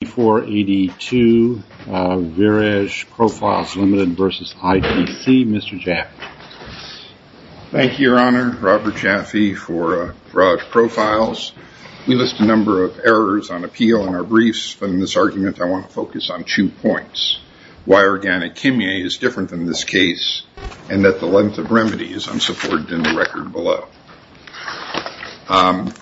Thank you, Your Honor. Robert Jaffe for Viraj Profiles. We list a number of errors on appeal in our briefs, but in this argument I want to focus on two points. Why Organic Kimye is different than this case and that the length of remedy is unsupported in the record below.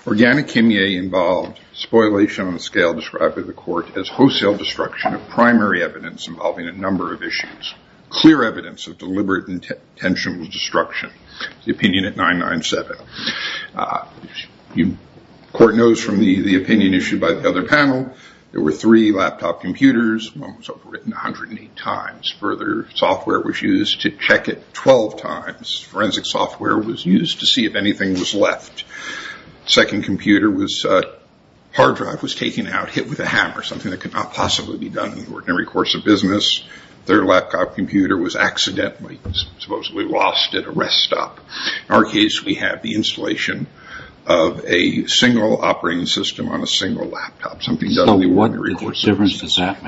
Organic Kimye involved spoliation on a scale described by the court as wholesale destruction of primary evidence involving a number of issues. Clear evidence of deliberate intentional destruction, the opinion at 997. The court knows from the opinion issued by the other panel there were three laptop computers, one was overwritten 108 times. Further, software was used to check it 12 times. Forensic software was used to see if anything was left. The second computer's hard drive was taken out, hit with a hammer, something that could not possibly be done in the ordinary course of business. Their laptop computer was accidentally supposedly lost at a rest stop. In our case, we have the installation of a single operating system on a single laptop, something done in the ordinary course of business. What difference does that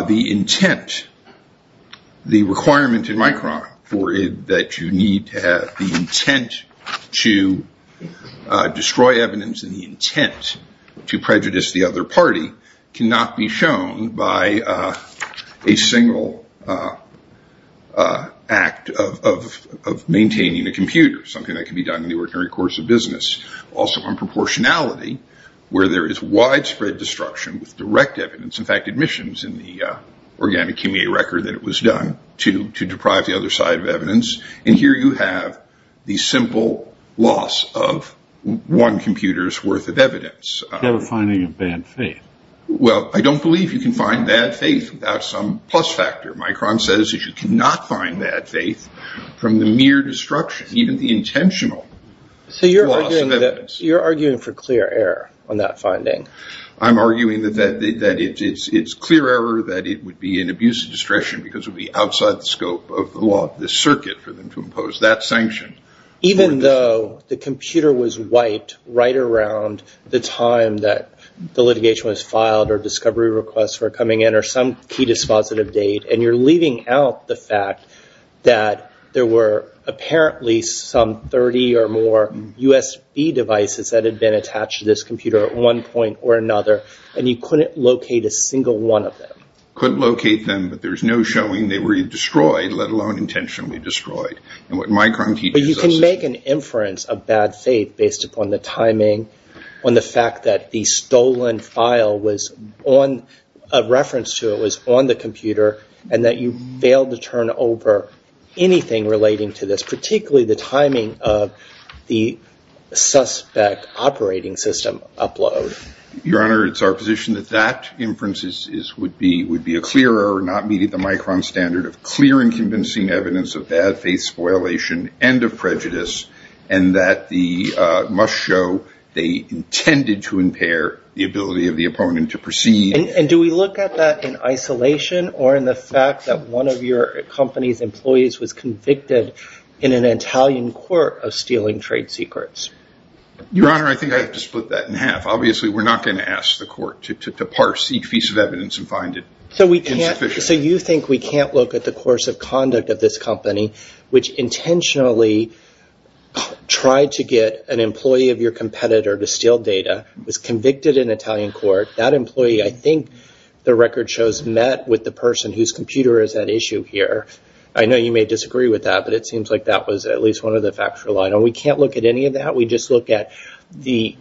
make? The intent, the requirement in my crime for it that you need to have the intent to destroy evidence and the intent to prejudice the other party cannot be shown by a single act of maintaining a computer, something that can be done in this widespread destruction with direct evidence, in fact, admissions in the organic record that it was done to deprive the other side of evidence. And here you have the simple loss of one computer's worth of evidence. You have a finding of bad faith. Well, I don't believe you can find bad faith without some plus factor. Micron says that you cannot find bad faith from the mere destruction, even the intentional loss of evidence. So you're arguing for clear error on that finding. I'm arguing that it's clear error, that it would be an abuse of discretion because it would be outside the scope of the law, the circuit for them to impose that sanction. Even though the computer was wiped right around the time that the litigation was filed or discovery requests were coming in or some key dispositive date, and you're leaving out the fact that there were apparently some 30 or more USB devices that had been attached to this computer at one point or another, and you couldn't locate a single one of them. Couldn't locate them, but there's no showing they were destroyed, let alone intentionally destroyed. And what Micron teaches us is... But you can make an inference of bad faith based upon the timing, on the fact that the stolen file was on, a reference to it was on the computer, and that you failed to turn over anything relating to this, particularly the timing of the suspect operating system upload. Your Honor, it's our position that that inference would be a clear error, not meeting the Micron standard of clear and convincing evidence of bad faith spoilation and of prejudice, and that the must show they intended to impair the ability of the opponent to proceed. And do we look at that in isolation or in the fact that one of your company's employees was convicted in an Italian court of stealing trade secrets? Your Honor, I think I have to split that in half. Obviously, we're not going to ask the court to parse each piece of evidence and find it insufficient. So you think we can't look at the course of conduct of this company, which intentionally tried to get an employee of your competitor to steal data, was convicted in Italian court. That employee, I think the record shows, met with the person whose computer is at issue here. I know you may disagree with that, but it seems like that was at least one of the facts we relied on. We can't look at any of that. We just look at the,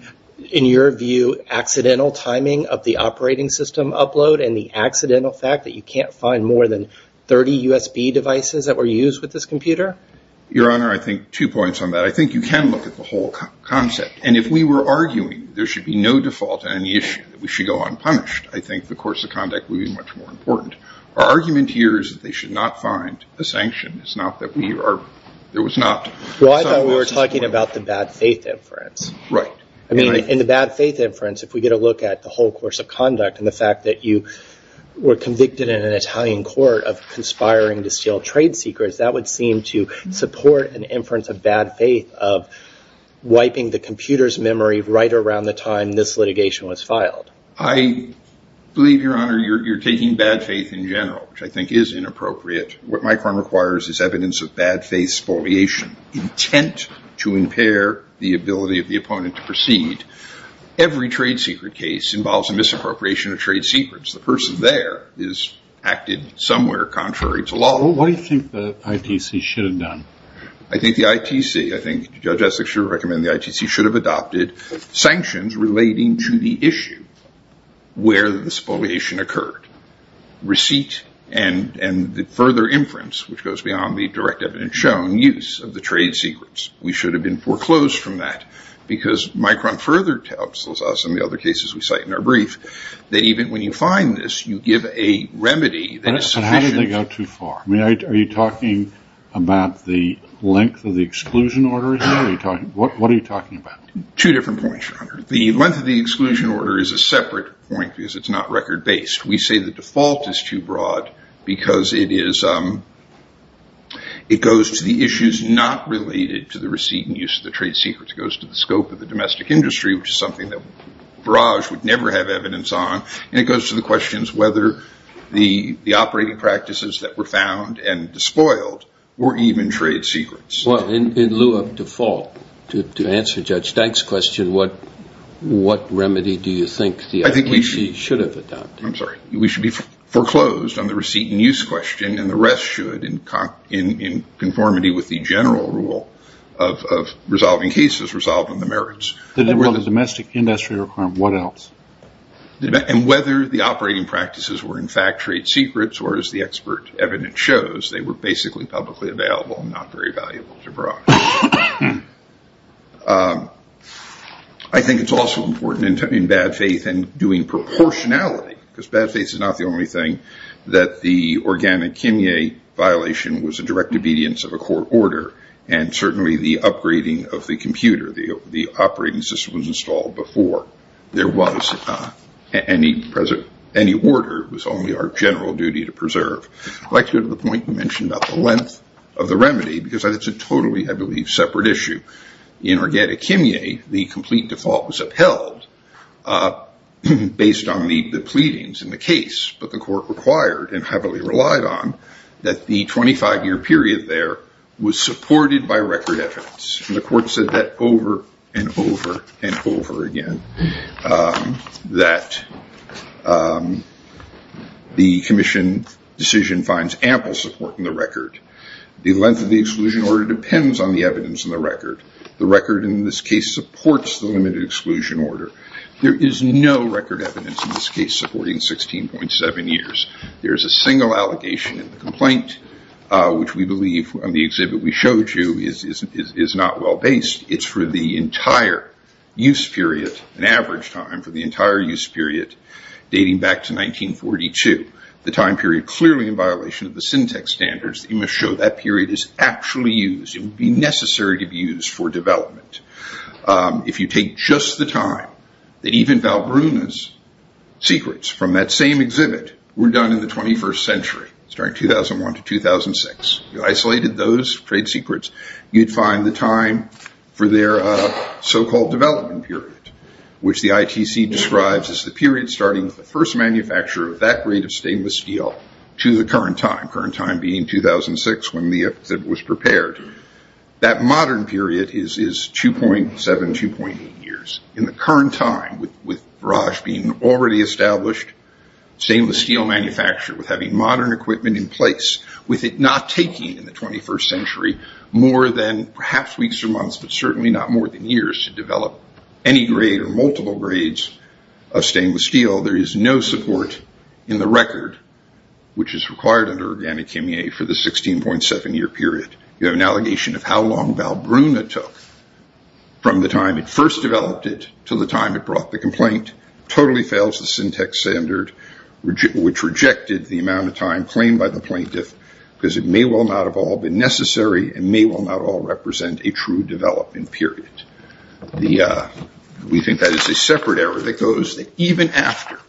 in your view, accidental timing of the operating system upload and the accidental fact that you can't find more than 30 USB devices that were used with this computer? Your Honor, I think two points on that. I think you can look at the whole concept. If we were arguing there should be no default on any issue, that we should go unpunished, I think the course of conduct would be much more important. Our argument here is that they should not find a sanction. It's not that we are, there was not. Well, I thought we were talking about the bad faith inference. Right. I mean, in the bad faith inference, if we get a look at the whole course of conduct and the fact that you were convicted in an Italian court of conspiring to steal trade secrets, that would seem to support an inference of bad faith of wiping the computer's memory right around the time this litigation was filed. I believe, Your Honor, you're taking bad faith in general, which I think is inappropriate. What my crime requires is evidence of bad faith spoliation, intent to impair the ability of the opponent to proceed. Every trade secret case involves a misappropriation of trade secrets. The person there has acted somewhere contrary to law. Well, what do you think the ITC should have done? I think the ITC, I think Judge Essex should recommend the ITC should have adopted sanctions relating to the issue where the spoliation occurred, receipt, and the further inference, which goes beyond the direct evidence shown, use of the trade secrets. We should have been foreclosed from that because Micron further tells us, in the other cases we cite in our brief, that even when you find this, you give a remedy that is sufficient. I think you go too far. I mean, are you talking about the length of the exclusion order here? What are you talking about? Two different points, Your Honor. The length of the exclusion order is a separate point because it's not record-based. We say the default is too broad because it goes to the issues not related to the receipt and use of the trade secrets. It goes to the scope of the domestic industry, which is something that Barrage would never have evidence on. And it goes to the questions whether the operating practices that were found and despoiled were even trade secrets. In lieu of default, to answer Judge Dank's question, what remedy do you think the ITC should have adopted? I'm sorry. We should be foreclosed on the receipt and use question, and the rest should, in conformity with the general rule of resolving cases, resolving the merits. The domestic industry requirement, what else? And whether the operating practices were, in fact, trade secrets, or as the expert evidence shows, they were basically publicly available and not very valuable to Barrage. I think it's also important in bad faith and doing proportionality, because bad faith is not the only thing, that the Organic Kimye violation was a direct obedience of a court order. And certainly the upgrading of the computer, the operating system was installed before. There was not any order, it was only our general duty to preserve. I'd like to go to the point you mentioned about the length of the remedy, because that's a totally, I believe, separate issue. In Organic Kimye, the complete default was upheld based on the pleadings in the case, but the court required, and heavily relied on, that the 25 year period there was supported by record evidence. And the court said that over, and over, and over again, that the commission decision finds ample support in the record. The length of the exclusion order depends on the evidence in the record. The record in this case supports the limited exclusion order. There is no record evidence in this case supporting 16.7 years. There's a single allegation in the complaint, which we believe on the exhibit we showed you is not well based. It's for the entire use period, an average time for the entire use period, dating back to 1942. The time period clearly in violation of the syntax standards, you must show that period is actually used, it would be necessary to be used for development. If you take just the time that even Val Bruna's secrets from that same exhibit were done in the 21st century, starting 2001 to 2006, you isolated those trade secrets, you'd find the time for their so-called development period, which the ITC describes as the period starting with the first manufacturer of that grade of stainless steel to the current time, current time being 2006 when the exhibit was prepared. That modern period is 2.7, 2.8 years. In the current time, with Raj being already established stainless steel manufacturer, with having modern equipment in place, with it not taking in the 21st century more than perhaps weeks or months, but certainly not more than years to develop any grade or multiple grades of stainless steel, there is no support in the record, which is required under organic Kimye for the 16.7 year period. You have an allegation of how long Val Bruna took from the time it first developed it to the time it brought the complaint, totally fails the syntax standard, which rejected the amount of time claimed by the plaintiff, because it may well not have all been necessary and may well not all represent a true development period. We think that is a separate error that goes that even after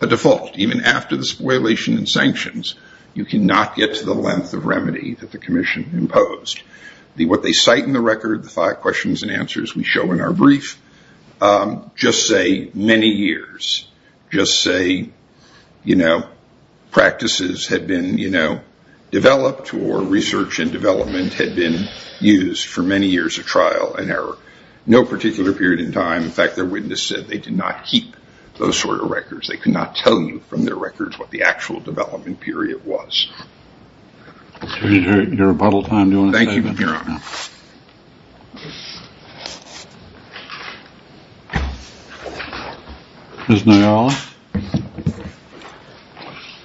a default, even after the default, you cannot get to the length of remedy that the commission imposed. What they cite in the record, the five questions and answers we show in our brief, just say many years. Just say practices had been developed or research and development had been used for many years of trial and error. No particular period in time, in fact their witness said they did not keep those sort of records. They could not tell you from their records what the actual development period was. Your rebuttal time, do you want to say anything? Thank you, your honor. Ms. Nayala?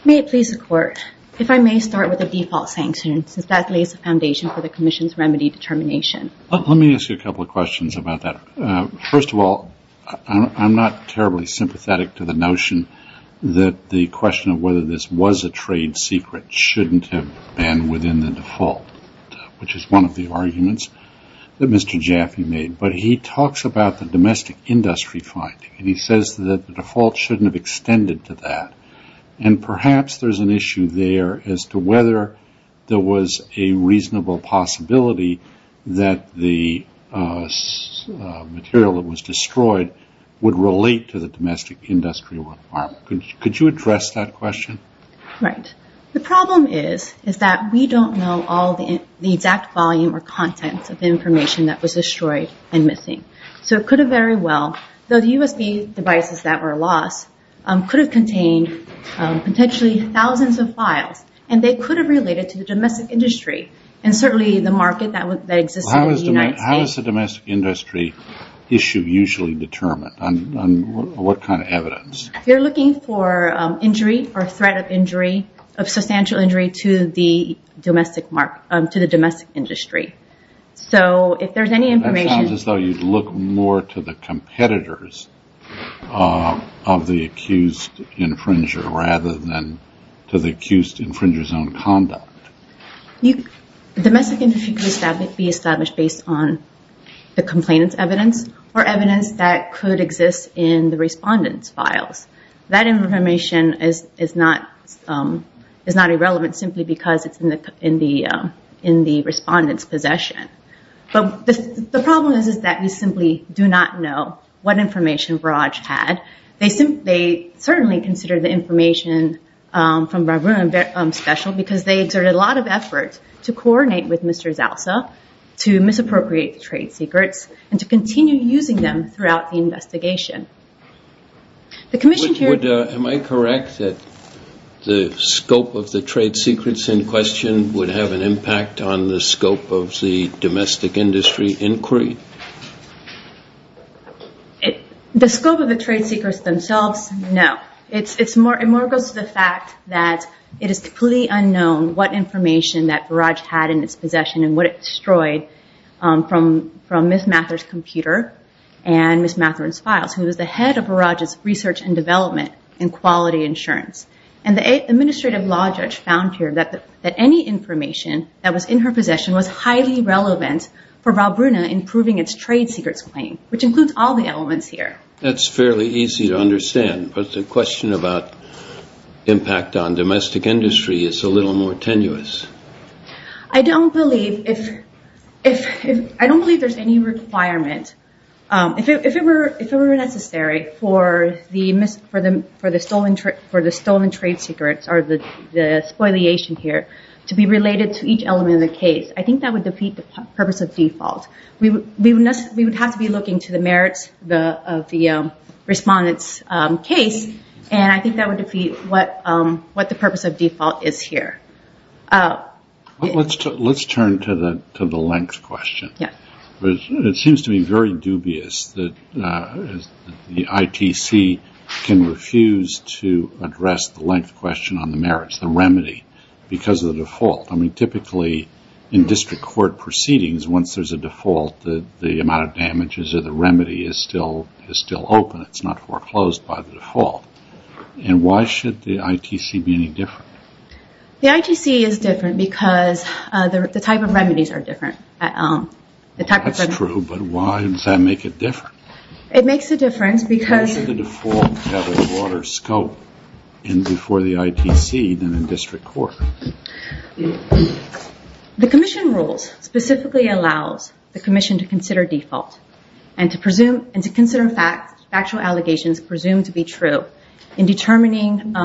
May it please the court, if I may start with the default sanction since that lays the foundation for the commission's remedy determination. Let me ask you a couple of questions about that. First of all, I am not terribly sympathetic to the notion that the question of whether this was a trade secret should not have been within the default, which is one of the arguments that Mr. Jaffe made, but he talks about the domestic industry finding and he says that the default should not have extended to that and perhaps there is an issue there as to whether there was a reasonable possibility that the material that was destroyed would relate to the domestic industry or not. Could you address that question? Right. The problem is that we don't know all the exact volume or contents of the information that was destroyed and missing. It could have very well, though the USB devices that were lost could have contained potentially thousands of files and they could have related to the domestic industry and certainly the market that existed in the United States. How is the domestic industry issue usually determined? What kind of evidence? If you are looking for injury or threat of injury, of substantial injury to the domestic industry. So, if there is any information That sounds as though you would look more to the competitors of the accused infringer rather than to the accused infringer's own conduct. The domestic industry could be established based on the complainant's evidence or evidence that could exist in the respondent's files. That information is not irrelevant simply because it is in the respondent's possession. The problem is that we simply do not know what information Barrage had. They certainly considered the information from Barbara special because they exerted a lot of effort to coordinate with Mr. Zalsa to misappropriate the trade secrets and to continue using them throughout the investigation. The commission here... Am I correct that the scope of the trade secrets in question would have an impact on the scope of the domestic industry inquiry? The scope of the trade secrets themselves, no. It more goes to the fact that it is completely unknown what information that Barrage had in its possession and what it destroyed from Ms. Mather's computer and Ms. Mather's files who was the head of Barrage's research and development in quality insurance. And the administrative law judge found here that any information that was in her possession was highly relevant for Valbrunna in proving its trade secrets claim, which includes all the elements here. That's fairly easy to understand, but the question about impact on domestic industry is a little more tenuous. I don't believe there's any requirement, if it were necessary for the stolen trade secrets or the spoliation here to be related to each element of the case. I think that would defeat the purpose of default. We would have to be looking to the merits of the respondent's case, and I think that would defeat what the purpose of default is here. Let's turn to the length question. It seems to me very dubious that the ITC can refuse to address the length question on the merits, the remedy, because of the default. Typically, in district court proceedings, once there's a default, the amount of damages or the remedy is still open, it's not foreclosed by the default. And why should the ITC be any different? The ITC is different because the type of remedies are different. That's true, but why does that make it different? It makes a difference because- Why is it the default to have a water scope before the ITC than in district court? The commission rules specifically allows the commission to consider default and to consider factual allegations presumed to be true in determining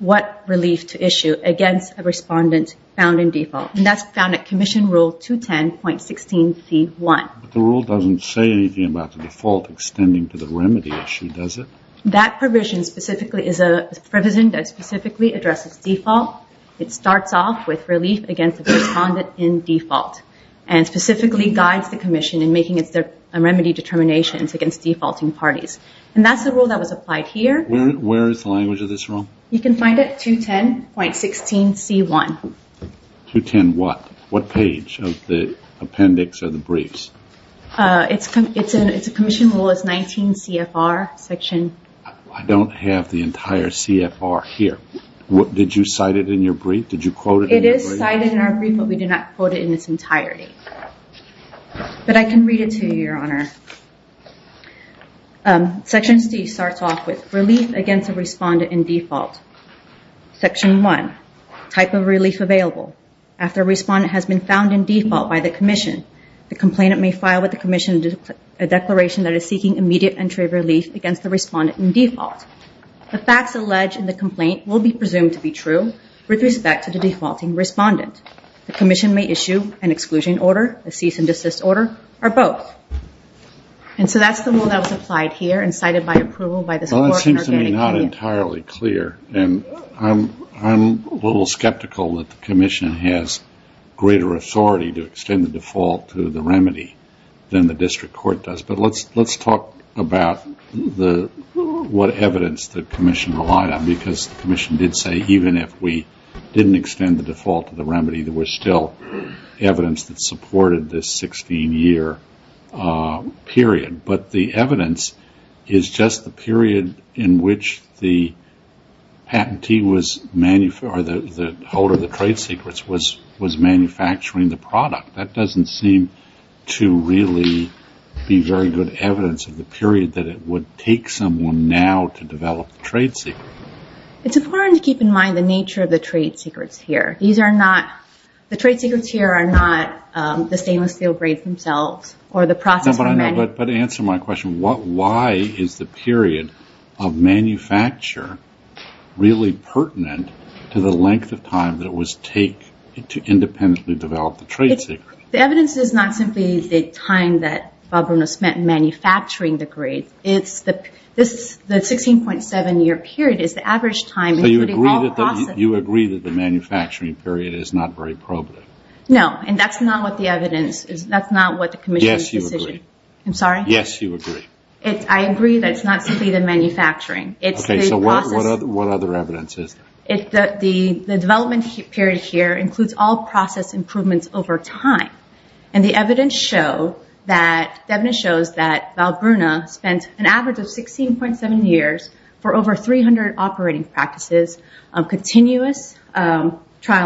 what relief to issue against a respondent found in default, and that's found at Commission Rule 210.16c1. The rule doesn't say anything about the default extending to the remedy issue, does it? That provision specifically is a provision that specifically addresses default. It starts off with relief against a respondent in default and specifically guides the commission in making its remedy determinations against defaulting parties. And that's the rule that was applied here. Where is the language of this rule? You can find it 210.16c1. 210 what? What page of the appendix of the briefs? It's a commission rule, it's 19 CFR section. I don't have the entire CFR here. Did you cite it in your brief? Did you quote it in your brief? It is cited in our brief, but we do not quote it in its entirety. But I can read it to you, Your Honor. Section C starts off with relief against a respondent in default. Section 1, type of relief available. After a respondent has been found in default by the commission, the complainant may file with the commission a declaration that is seeking immediate entry of relief against the respondent in default. The facts alleged in the complaint will be presumed to be true with respect to the defaulting respondent. The commission may issue an exclusion order, a cease and desist order, or both. And so that's the rule that was applied here and cited by approval by the Supreme Court in our guaranteed opinion. Well, that seems to me not entirely clear and I'm a little skeptical that the commission has greater authority to extend the default to the remedy than the district court does. But let's talk about what evidence the commission relied on because the commission did say even if we didn't extend the default to the remedy, there was still evidence that supported this 16-year period. But the evidence is just the period in which the patentee was, or the holder of the trade secrets was manufacturing the product. That doesn't seem to really be very good evidence of the period that it would take someone now to develop the trade secret. It's important to keep in mind the nature of the trade secrets here. These are not, the trade secrets here are not the stainless steel grades themselves or the process for manufacturing. But answer my question, why is the period of manufacture really pertinent to the length of time that it would take to independently develop the trade secret? The evidence is not simply the time that Bob Bruno spent manufacturing the grades. The 16.7-year period is the average time including all processes. So you agree that the manufacturing period is not very probative? No, and that's not what the evidence, that's not what the commission's decision. Yes, you agree. I'm sorry? Yes, you agree. I agree that it's not simply the manufacturing, it's the process. Okay, so what other evidence is there? The development period here includes all process improvements over time. And the evidence shows that Bob Bruno spent an average of 16.7 years for over 300 operating practices of continuous trial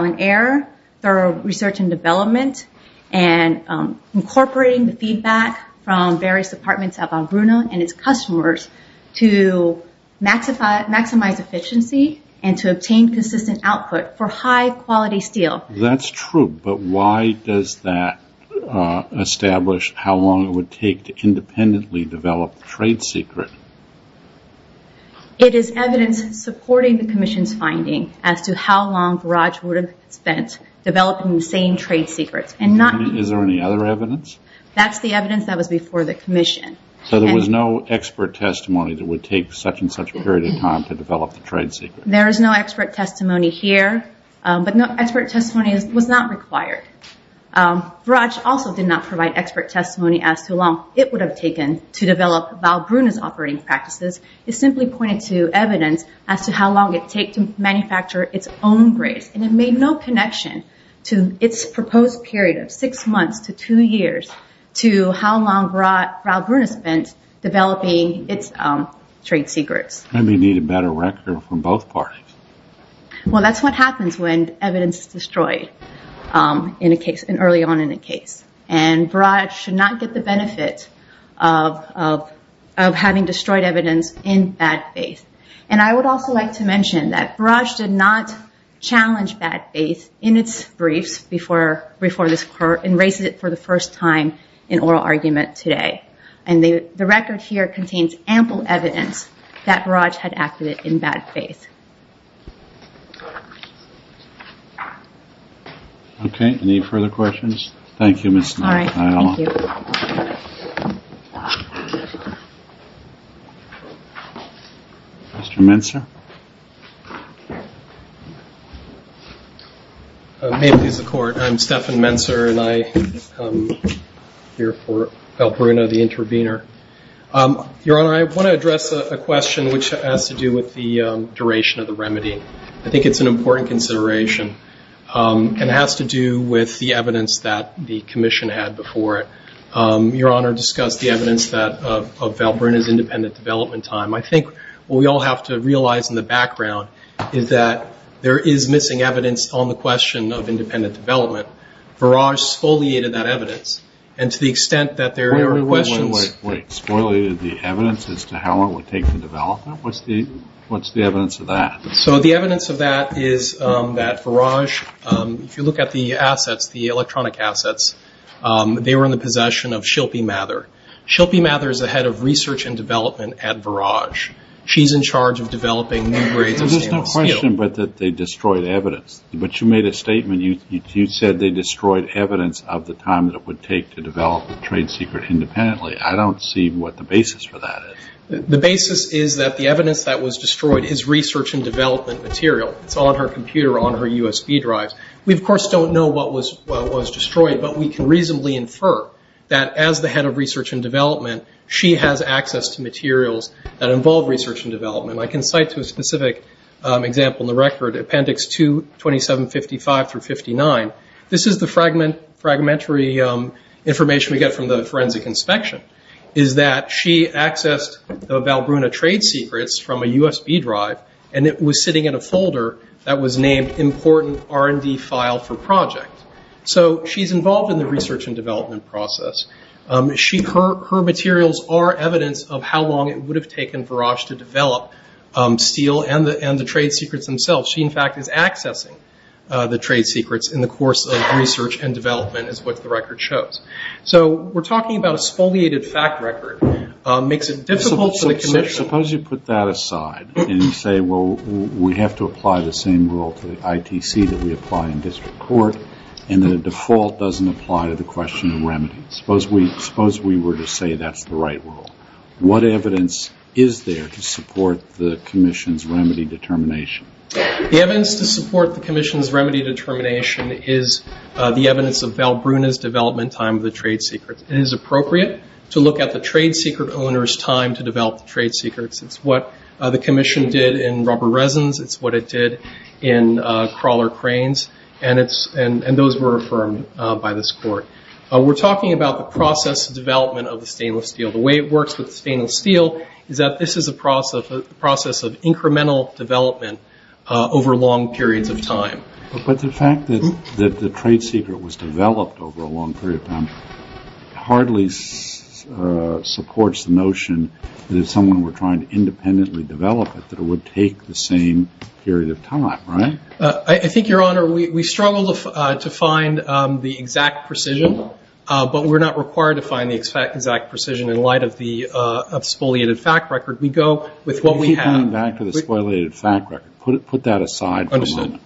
and error, thorough research and development, and incorporating the feedback from various departments at Bob Bruno and its customers to maximize efficiency and to obtain consistent output for high-quality steel. That's true, but why does that establish how long it would take to independently develop the trade secret? It is evidence supporting the commission's finding as to how long Raj would have spent developing the same trade secret. Is there any other evidence? That's the evidence that was before the commission. So there was no expert testimony that would take such and such a period of time to develop the trade secret? There is no expert testimony here, but expert testimony was not required. Raj also did not provide expert testimony as to how long it would have taken to develop Bob Bruno's operating practices. It simply pointed to evidence as to how long it would take to manufacture its own grades. And it made no connection to its proposed period of six months to two years to how long Bob Bruno spent developing its trade secrets. Maybe you need a better record from both parties. Well, that's what happens when evidence is destroyed early on in a case. And Raj should not get the benefit of having destroyed evidence in bad faith. And I would also like to mention that Raj did not challenge bad faith in its briefs and raise it for the first time in oral argument today. And the record here contains ample evidence that Raj had acted in bad faith. Okay, any further questions? Thank you, Ms. Nakayama. All right. Thank you. Mr. Menser? May it please the Court. I'm Stephan Menser and I'm here for Val Bruno, the intervener. Your Honor, I want to address a question which has to do with the duration of the remedy. I think it's an important consideration. And it has to do with the evidence that the Commission had before it. Your Honor discussed the evidence of Val Bruno's independent development time. I think what we all have to realize in the background is that there is missing evidence on the question of independent development. Viraj exfoliated that evidence. And to the extent that there are questions... Wait, wait, wait. Exfoliated the evidence as to how long it would take for development? What's the evidence of that? So the evidence of that is that Viraj, if you look at the assets, the electronic assets, they were in the possession of Shilpi Mathur. Shilpi Mathur is the head of research and development at Viraj. She's in charge of developing new grades of stainless steel. No question but that they destroyed evidence. But you made a statement. You said they destroyed evidence of the time that it would take to develop the trade secret independently. I don't see what the basis for that is. The basis is that the evidence that was destroyed is research and development material. It's on her computer, on her USB drives. We, of course, don't know what was destroyed. But we can reasonably infer that as the head of research and development, she has access to materials that involve research and development. I can cite to a specific example in the record, Appendix 2, 2755-59. This is the fragmentary information we get from the forensic inspection, is that she accessed the Valbrunna trade secrets from a USB drive, and it was sitting in a folder that was named important R&D file for project. So she's involved in the research and development process. Her materials are evidence of how long it would have taken Varosh to develop steel and the trade secrets themselves. She, in fact, is accessing the trade secrets in the course of research and development, is what the record shows. So we're talking about a spoliated fact record. Makes it difficult for the commission. Suppose you put that aside and say, well, we have to apply the same rule to the ITC that we apply in district court, and the default doesn't apply to the question of remedies. Suppose we were to say that's the right rule. What evidence is there to support the commission's remedy determination? The evidence to support the commission's remedy determination is the evidence of Valbrunna's development time of the trade secrets. It is appropriate to look at the trade secret owner's time to develop the trade secrets. It's what the commission did in rubber resins, it's what it did in crawler cranes, and those were affirmed by this court. We're talking about the process of development of the stainless steel. The way it works with the stainless steel is that this is a process of incremental development over long periods of time. But the fact that the trade secret was developed over a long period of time hardly supports the notion that if someone were trying to independently develop it that it would take the same period of time, right? I think, Your Honor, we struggle to find the exact precision, but we're not required to find the exact precision in light of the spoliated fact record. We go with what we have. You keep coming back to the spoliated fact record. Put that aside for a moment.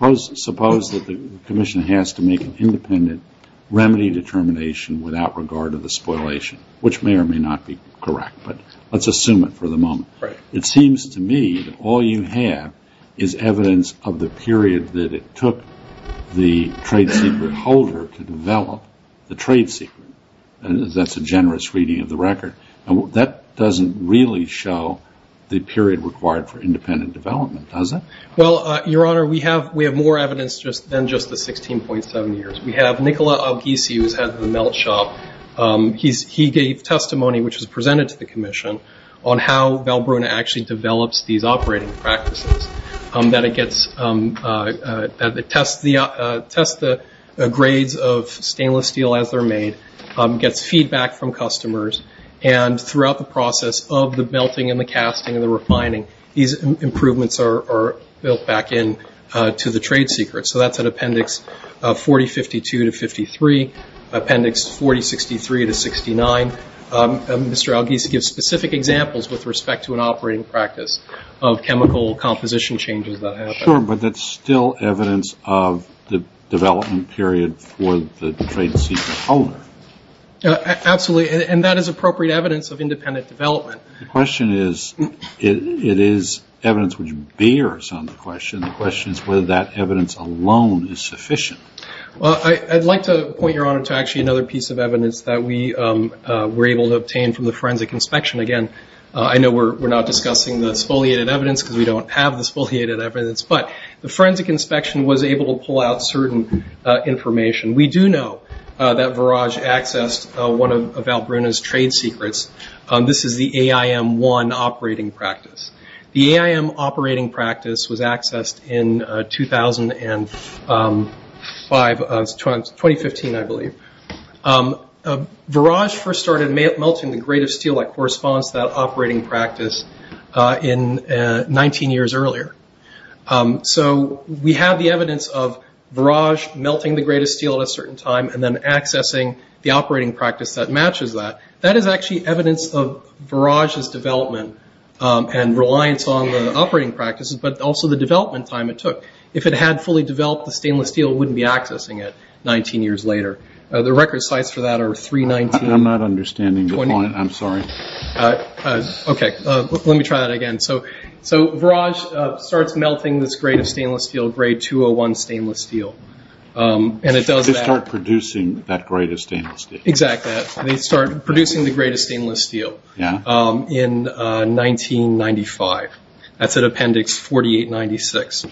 Understood. Suppose that the commission has to make an independent remedy determination without regard to the spoliation, which may or may not be correct, but let's assume it for the moment. Right. It seems to me that all you have is evidence of the period that it took the trade secret holder to develop the trade secret. That's a generous reading of the record. That doesn't really show the period required for independent development, does it? Well, Your Honor, we have more evidence than just the 16.7 years. We have Nikola Avgisi, who's head of the melt shop. He gave testimony, which was presented to the commission, on how Valbrona actually develops these operating practices, that it tests the grades of stainless steel as they're made, gets feedback from customers, and throughout the process of the melting and the casting and the refining, these improvements are built back into the trade secret. So that's at Appendix 4052 to 53, Appendix 4063 to 69. Mr. Avgisi gives specific examples with respect to an operating practice of chemical composition changes that happen. Sure, but that's still evidence of the development period for the trade secret holder. Absolutely, and that is appropriate evidence of independent development. The question is, it is evidence which bears on the question. The question is whether that evidence alone is sufficient. I'd like to point, Your Honor, to actually another piece of evidence that we were able to obtain from the forensic inspection. Again, I know we're not discussing the exfoliated evidence because we don't have the exfoliated evidence, but the forensic inspection was able to pull out certain information. We do know that Varage accessed one of Valbrona's trade secrets. This is the AIM-1 operating practice. The AIM operating practice was accessed in 2015, I believe. Varage first started melting the grade of steel that corresponds to that operating practice in 19 years earlier. So we have the evidence of Varage melting the grade of steel at a certain time and then accessing the operating practice that matches that. That is actually evidence of Varage's development and reliance on the operating practices, but also the development time it took. If it had fully developed the stainless steel, it wouldn't be accessing it 19 years later. The record sites for that are 319- I'm not understanding the point. I'm sorry. Okay, let me try that again. So Varage starts melting this grade of stainless steel, grade 201 stainless steel, and it does that- They start producing that grade of stainless steel. Exactly. They start producing the grade of stainless steel in 1995. That's at Appendix 4896.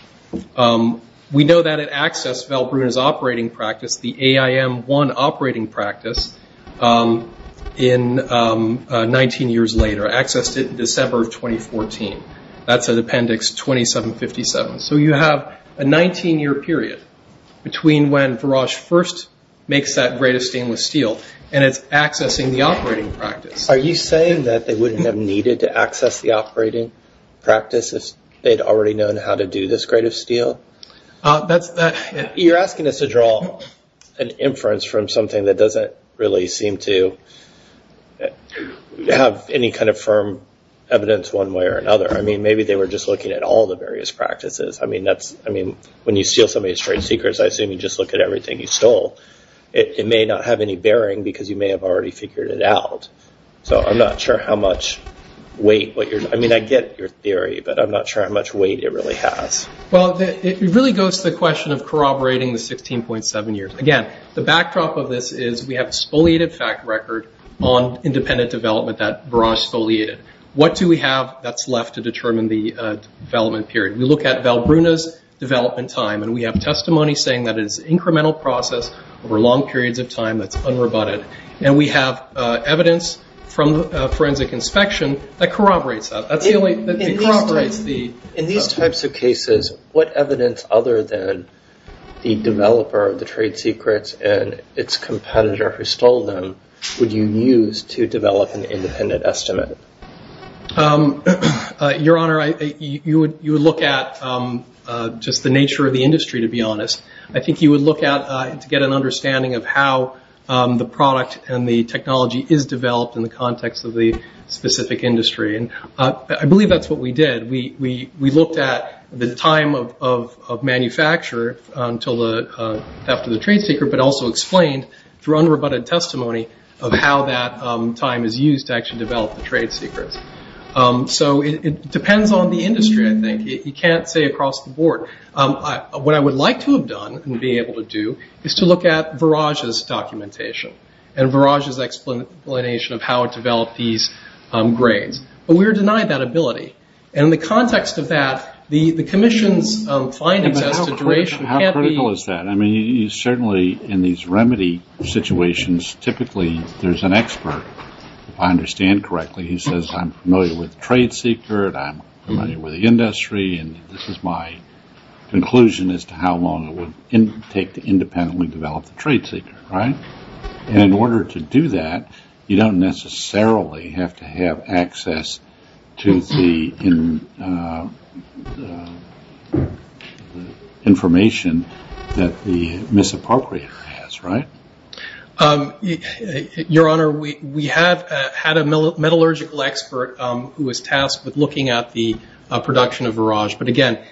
We know that it accessed Valbrona's operating practice, the AIM-1 operating practice, 19 years later, accessed it in December of 2014. That's at Appendix 2757. So you have a 19-year period between when Varage first makes that grade of stainless steel and it's accessing the operating practice. Are you saying that they wouldn't have needed to access the operating practice if they'd already known how to do this grade of steel? You're asking us to draw an inference from something that doesn't really seem to have any kind of firm evidence one way or another. I mean, maybe they were just looking at all the various practices. I mean, when you steal somebody's trade secrets, I assume you just look at everything you stole. It may not have any bearing because you may have already figured it out. So I'm not sure how much weight- I mean, I get your theory, but I'm not sure how much weight it really has. Well, it really goes to the question of corroborating the 16.7 years. Again, the backdrop of this is we have a spoliated fact record on independent development that Varage spoliated. What do we have that's left to determine the development period? We look at Valbruna's development time, and we have testimony saying that it's an incremental process over long periods of time that's unroboted. And we have evidence from the forensic inspection that corroborates that. That's the only thing that corroborates the- In these types of cases, what evidence other than the developer of the trade secrets and its competitor who stole them would you use to develop an independent estimate? Your Honor, you would look at just the nature of the industry, to be honest. I think you would look at it to get an understanding of how the product and the technology is developed in the context of the specific industry. And I believe that's what we did. We looked at the time of manufacture after the trade secret, but also explained through unroboted testimony of how that time is used to actually develop the trade secrets. So it depends on the industry, I think. You can't say across the board. What I would like to have done and be able to do is to look at Varage's documentation and Varage's explanation of how it developed these grades. But we were denied that ability. And in the context of that, the commission's findings as to duration can't be- How critical is that? I mean, certainly in these remedy situations, typically there's an expert, if I understand correctly, who says I'm familiar with the trade secret, I'm familiar with the industry, and this is my conclusion as to how long it would take to independently develop the trade secret, right? And in order to do that, you don't necessarily have to have access to the information that the misappropriator has, right? Your Honor, we have had a metallurgical expert who was tasked with looking at the production of Varage. But, again,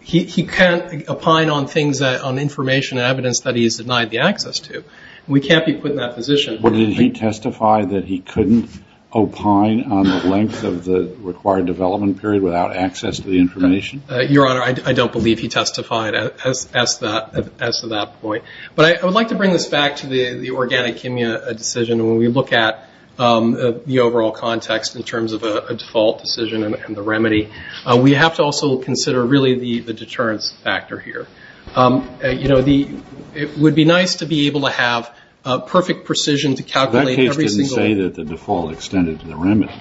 he can't opine on things on information and evidence that he has denied the access to. We can't be put in that position. But did he testify that he couldn't opine on the length of the required development period without access to the information? Your Honor, I don't believe he testified as to that point. But I would like to bring this back to the organic kimia decision. When we look at the overall context in terms of a default decision and the remedy, we have to also consider really the deterrence factor here. You know, it would be nice to be able to have perfect precision to calculate every single- That case didn't say that the default extended to the remedy,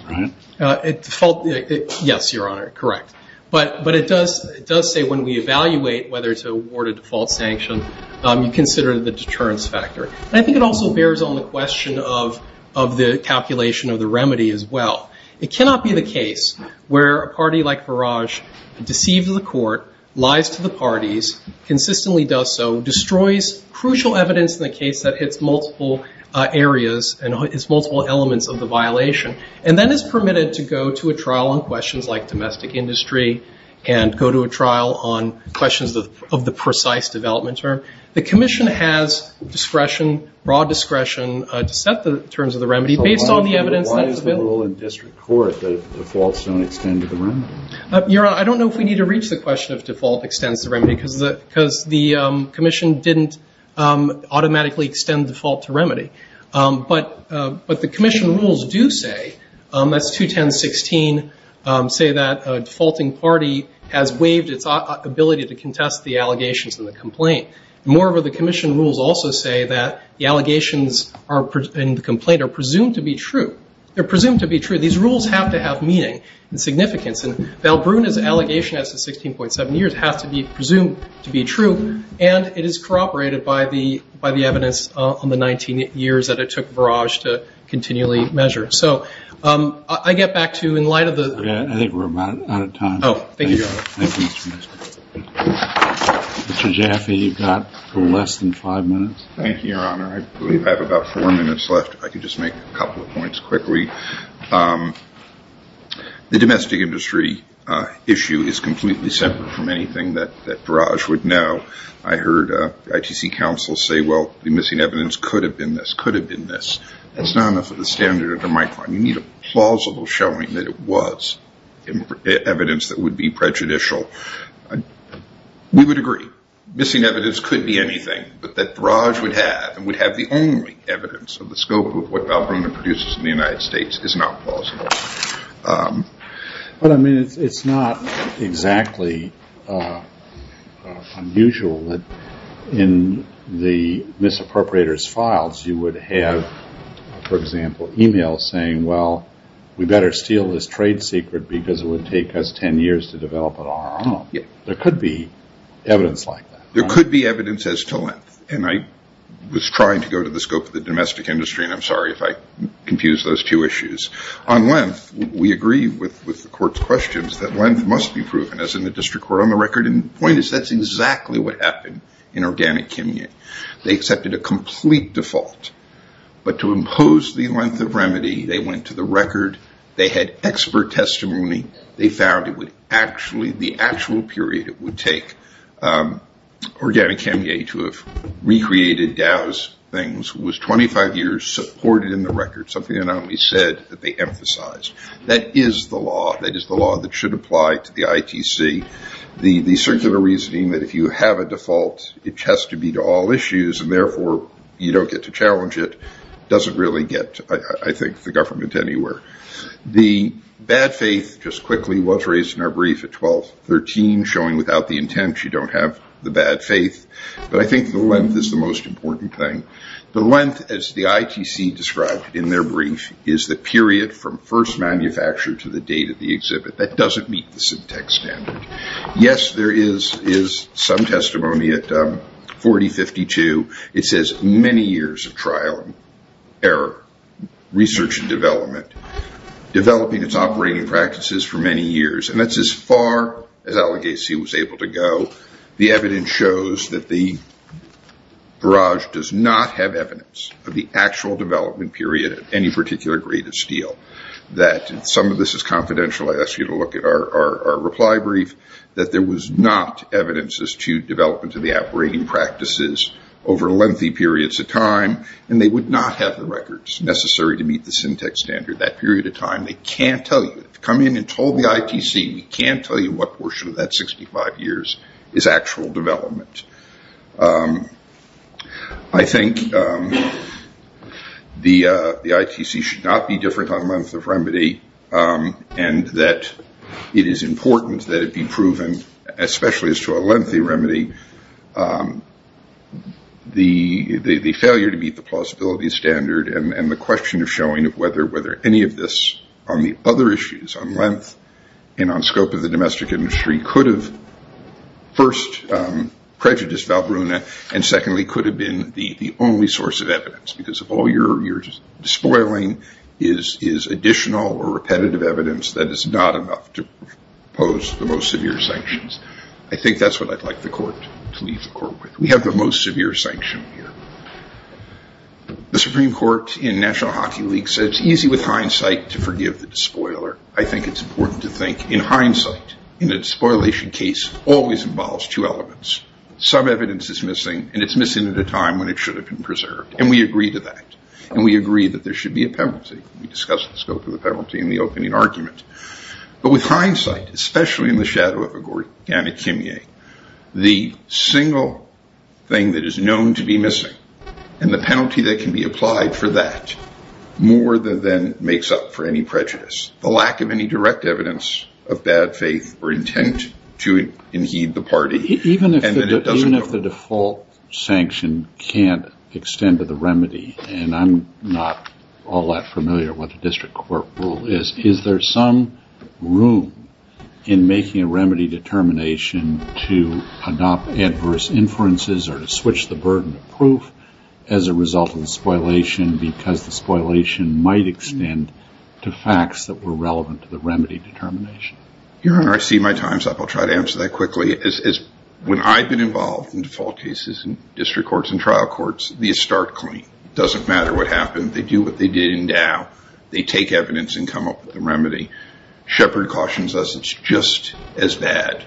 right? Yes, Your Honor, correct. But it does say when we evaluate whether to award a default sanction, you consider the deterrence factor. And I think it also bears on the question of the calculation of the remedy as well. It cannot be the case where a party like Varage deceives the court, lies to the parties, consistently does so, destroys crucial evidence in the case that hits multiple areas and hits multiple elements of the violation, and then is permitted to go to a trial on questions like domestic industry and go to a trial on questions of the precise development term. The commission has discretion, broad discretion, to set the terms of the remedy based on the evidence that is available. In district court, the defaults don't extend to the remedy. Your Honor, I don't know if we need to reach the question of default extends to remedy because the commission didn't automatically extend default to remedy. But the commission rules do say, that's 210.16, say that a defaulting party has waived its ability to contest the allegations in the complaint. Moreover, the commission rules also say that the allegations in the complaint are presumed to be true. They're presumed to be true. These rules have to have meaning and significance. And Valbrunna's allegation as to 16.7 years has to be presumed to be true, and it is corroborated by the evidence on the 19 years that it took Varage to continually measure. So I get back to you in light of the ‑‑ I think we're out of time. Oh, thank you, Your Honor. Thank you, Mr. Minister. Mr. Jaffe, you've got less than five minutes. Thank you, Your Honor. I believe I have about four minutes left. If I could just make a couple of points quickly. The domestic industry issue is completely separate from anything that Varage would know. I heard ITC counsel say, well, the missing evidence could have been this, could have been this. That's not enough of the standard of the Micron. You need a plausible showing that it was evidence that would be prejudicial. We would agree. Missing evidence could be anything, but that Varage would have, the only evidence of the scope of what Valbrona produces in the United States is not plausible. But, I mean, it's not exactly unusual that in the misappropriator's files you would have, for example, e‑mail saying, well, we better steal this trade secret because it would take us 10 years to develop it on our own. There could be evidence like that. There could be evidence as to length, and I was trying to go to the scope of the domestic industry, and I'm sorry if I confused those two issues. On length, we agree with the court's questions that length must be proven, as in the district court on the record, and the point is that's exactly what happened in Organic Kimye. They accepted a complete default, but to impose the length of remedy, they went to the record. They had expert testimony. They found it would actually, the actual period it would take Organic Kimye to have recreated Dow's things was 25 years, supported in the record, something the Anomalies said that they emphasized. That is the law. That is the law that should apply to the ITC. The circular reasoning that if you have a default, it has to be to all issues, and therefore you don't get to challenge it doesn't really get, I think, the government anywhere. The bad faith, just quickly, was raised in our brief at 12.13, showing without the intent, you don't have the bad faith, but I think the length is the most important thing. The length, as the ITC described in their brief, is the period from first manufacture to the date of the exhibit. That doesn't meet the syntax standard. Yes, there is some testimony at 40.52. It says many years of trial and error, research and development, developing its operating practices for many years, and that's as far as Alleghese was able to go. The evidence shows that the barrage does not have evidence of the actual development period of any particular grade of steel. Some of this is confidential. I ask you to look at our reply brief, that there was not evidence as to development of the operating practices over lengthy periods of time, and they would not have the records necessary to meet the syntax standard that period of time. They can't tell you. If you come in and told the ITC, we can't tell you what portion of that 65 years is actual development. I think the ITC should not be different on length of remedy, and that it is important that it be proven, especially as to a lengthy remedy, the failure to meet the plausibility standard and the question of showing whether any of this on the other issues, on length and on scope of the domestic industry, could have first prejudiced Valbrunna and secondly could have been the only source of evidence, because if all you're despoiling is additional or repetitive evidence, that is not enough to pose the most severe sanctions. I think that's what I'd like the court to leave the court with. We have the most severe sanction here. The Supreme Court in National Hockey League said it's easy with hindsight to forgive the despoiler. I think it's important to think in hindsight. In a despoilation case, it always involves two elements. Some evidence is missing, and it's missing at a time when it should have been preserved, and we agree to that, and we agree that there should be a penalty. We discussed the scope of the penalty in the opening argument. But with hindsight, especially in the shadow of a gory anechyme, the single thing that is known to be missing and the penalty that can be applied for that more than makes up for any prejudice, the lack of any direct evidence of bad faith or intent to inheed the party, Even if the default sanction can't extend to the remedy, and I'm not all that familiar with what the district court rule is, is there some room in making a remedy determination to adopt adverse inferences or to switch the burden of proof as a result of the despoilation because the despoilation might extend to facts that were relevant to the remedy determination? Your Honor, I see my time's up. I'll try to answer that quickly. When I've been involved in default cases in district courts and trial courts, they start clean. It doesn't matter what happened. They do what they did in Dow. They take evidence and come up with a remedy. Shepard cautions us it's just as bad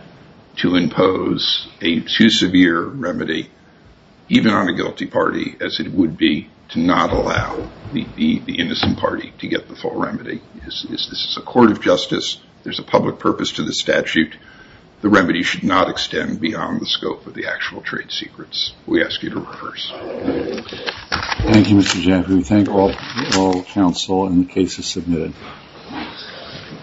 to impose a too severe remedy, even on a guilty party, as it would be to not allow the innocent party to get the full remedy. This is a court of justice. There's a public purpose to the statute. The remedy should not extend beyond the scope of the actual trade secrets. We ask you to reverse. Thank you, Mr. Shepard. We thank all counsel and the cases submitted.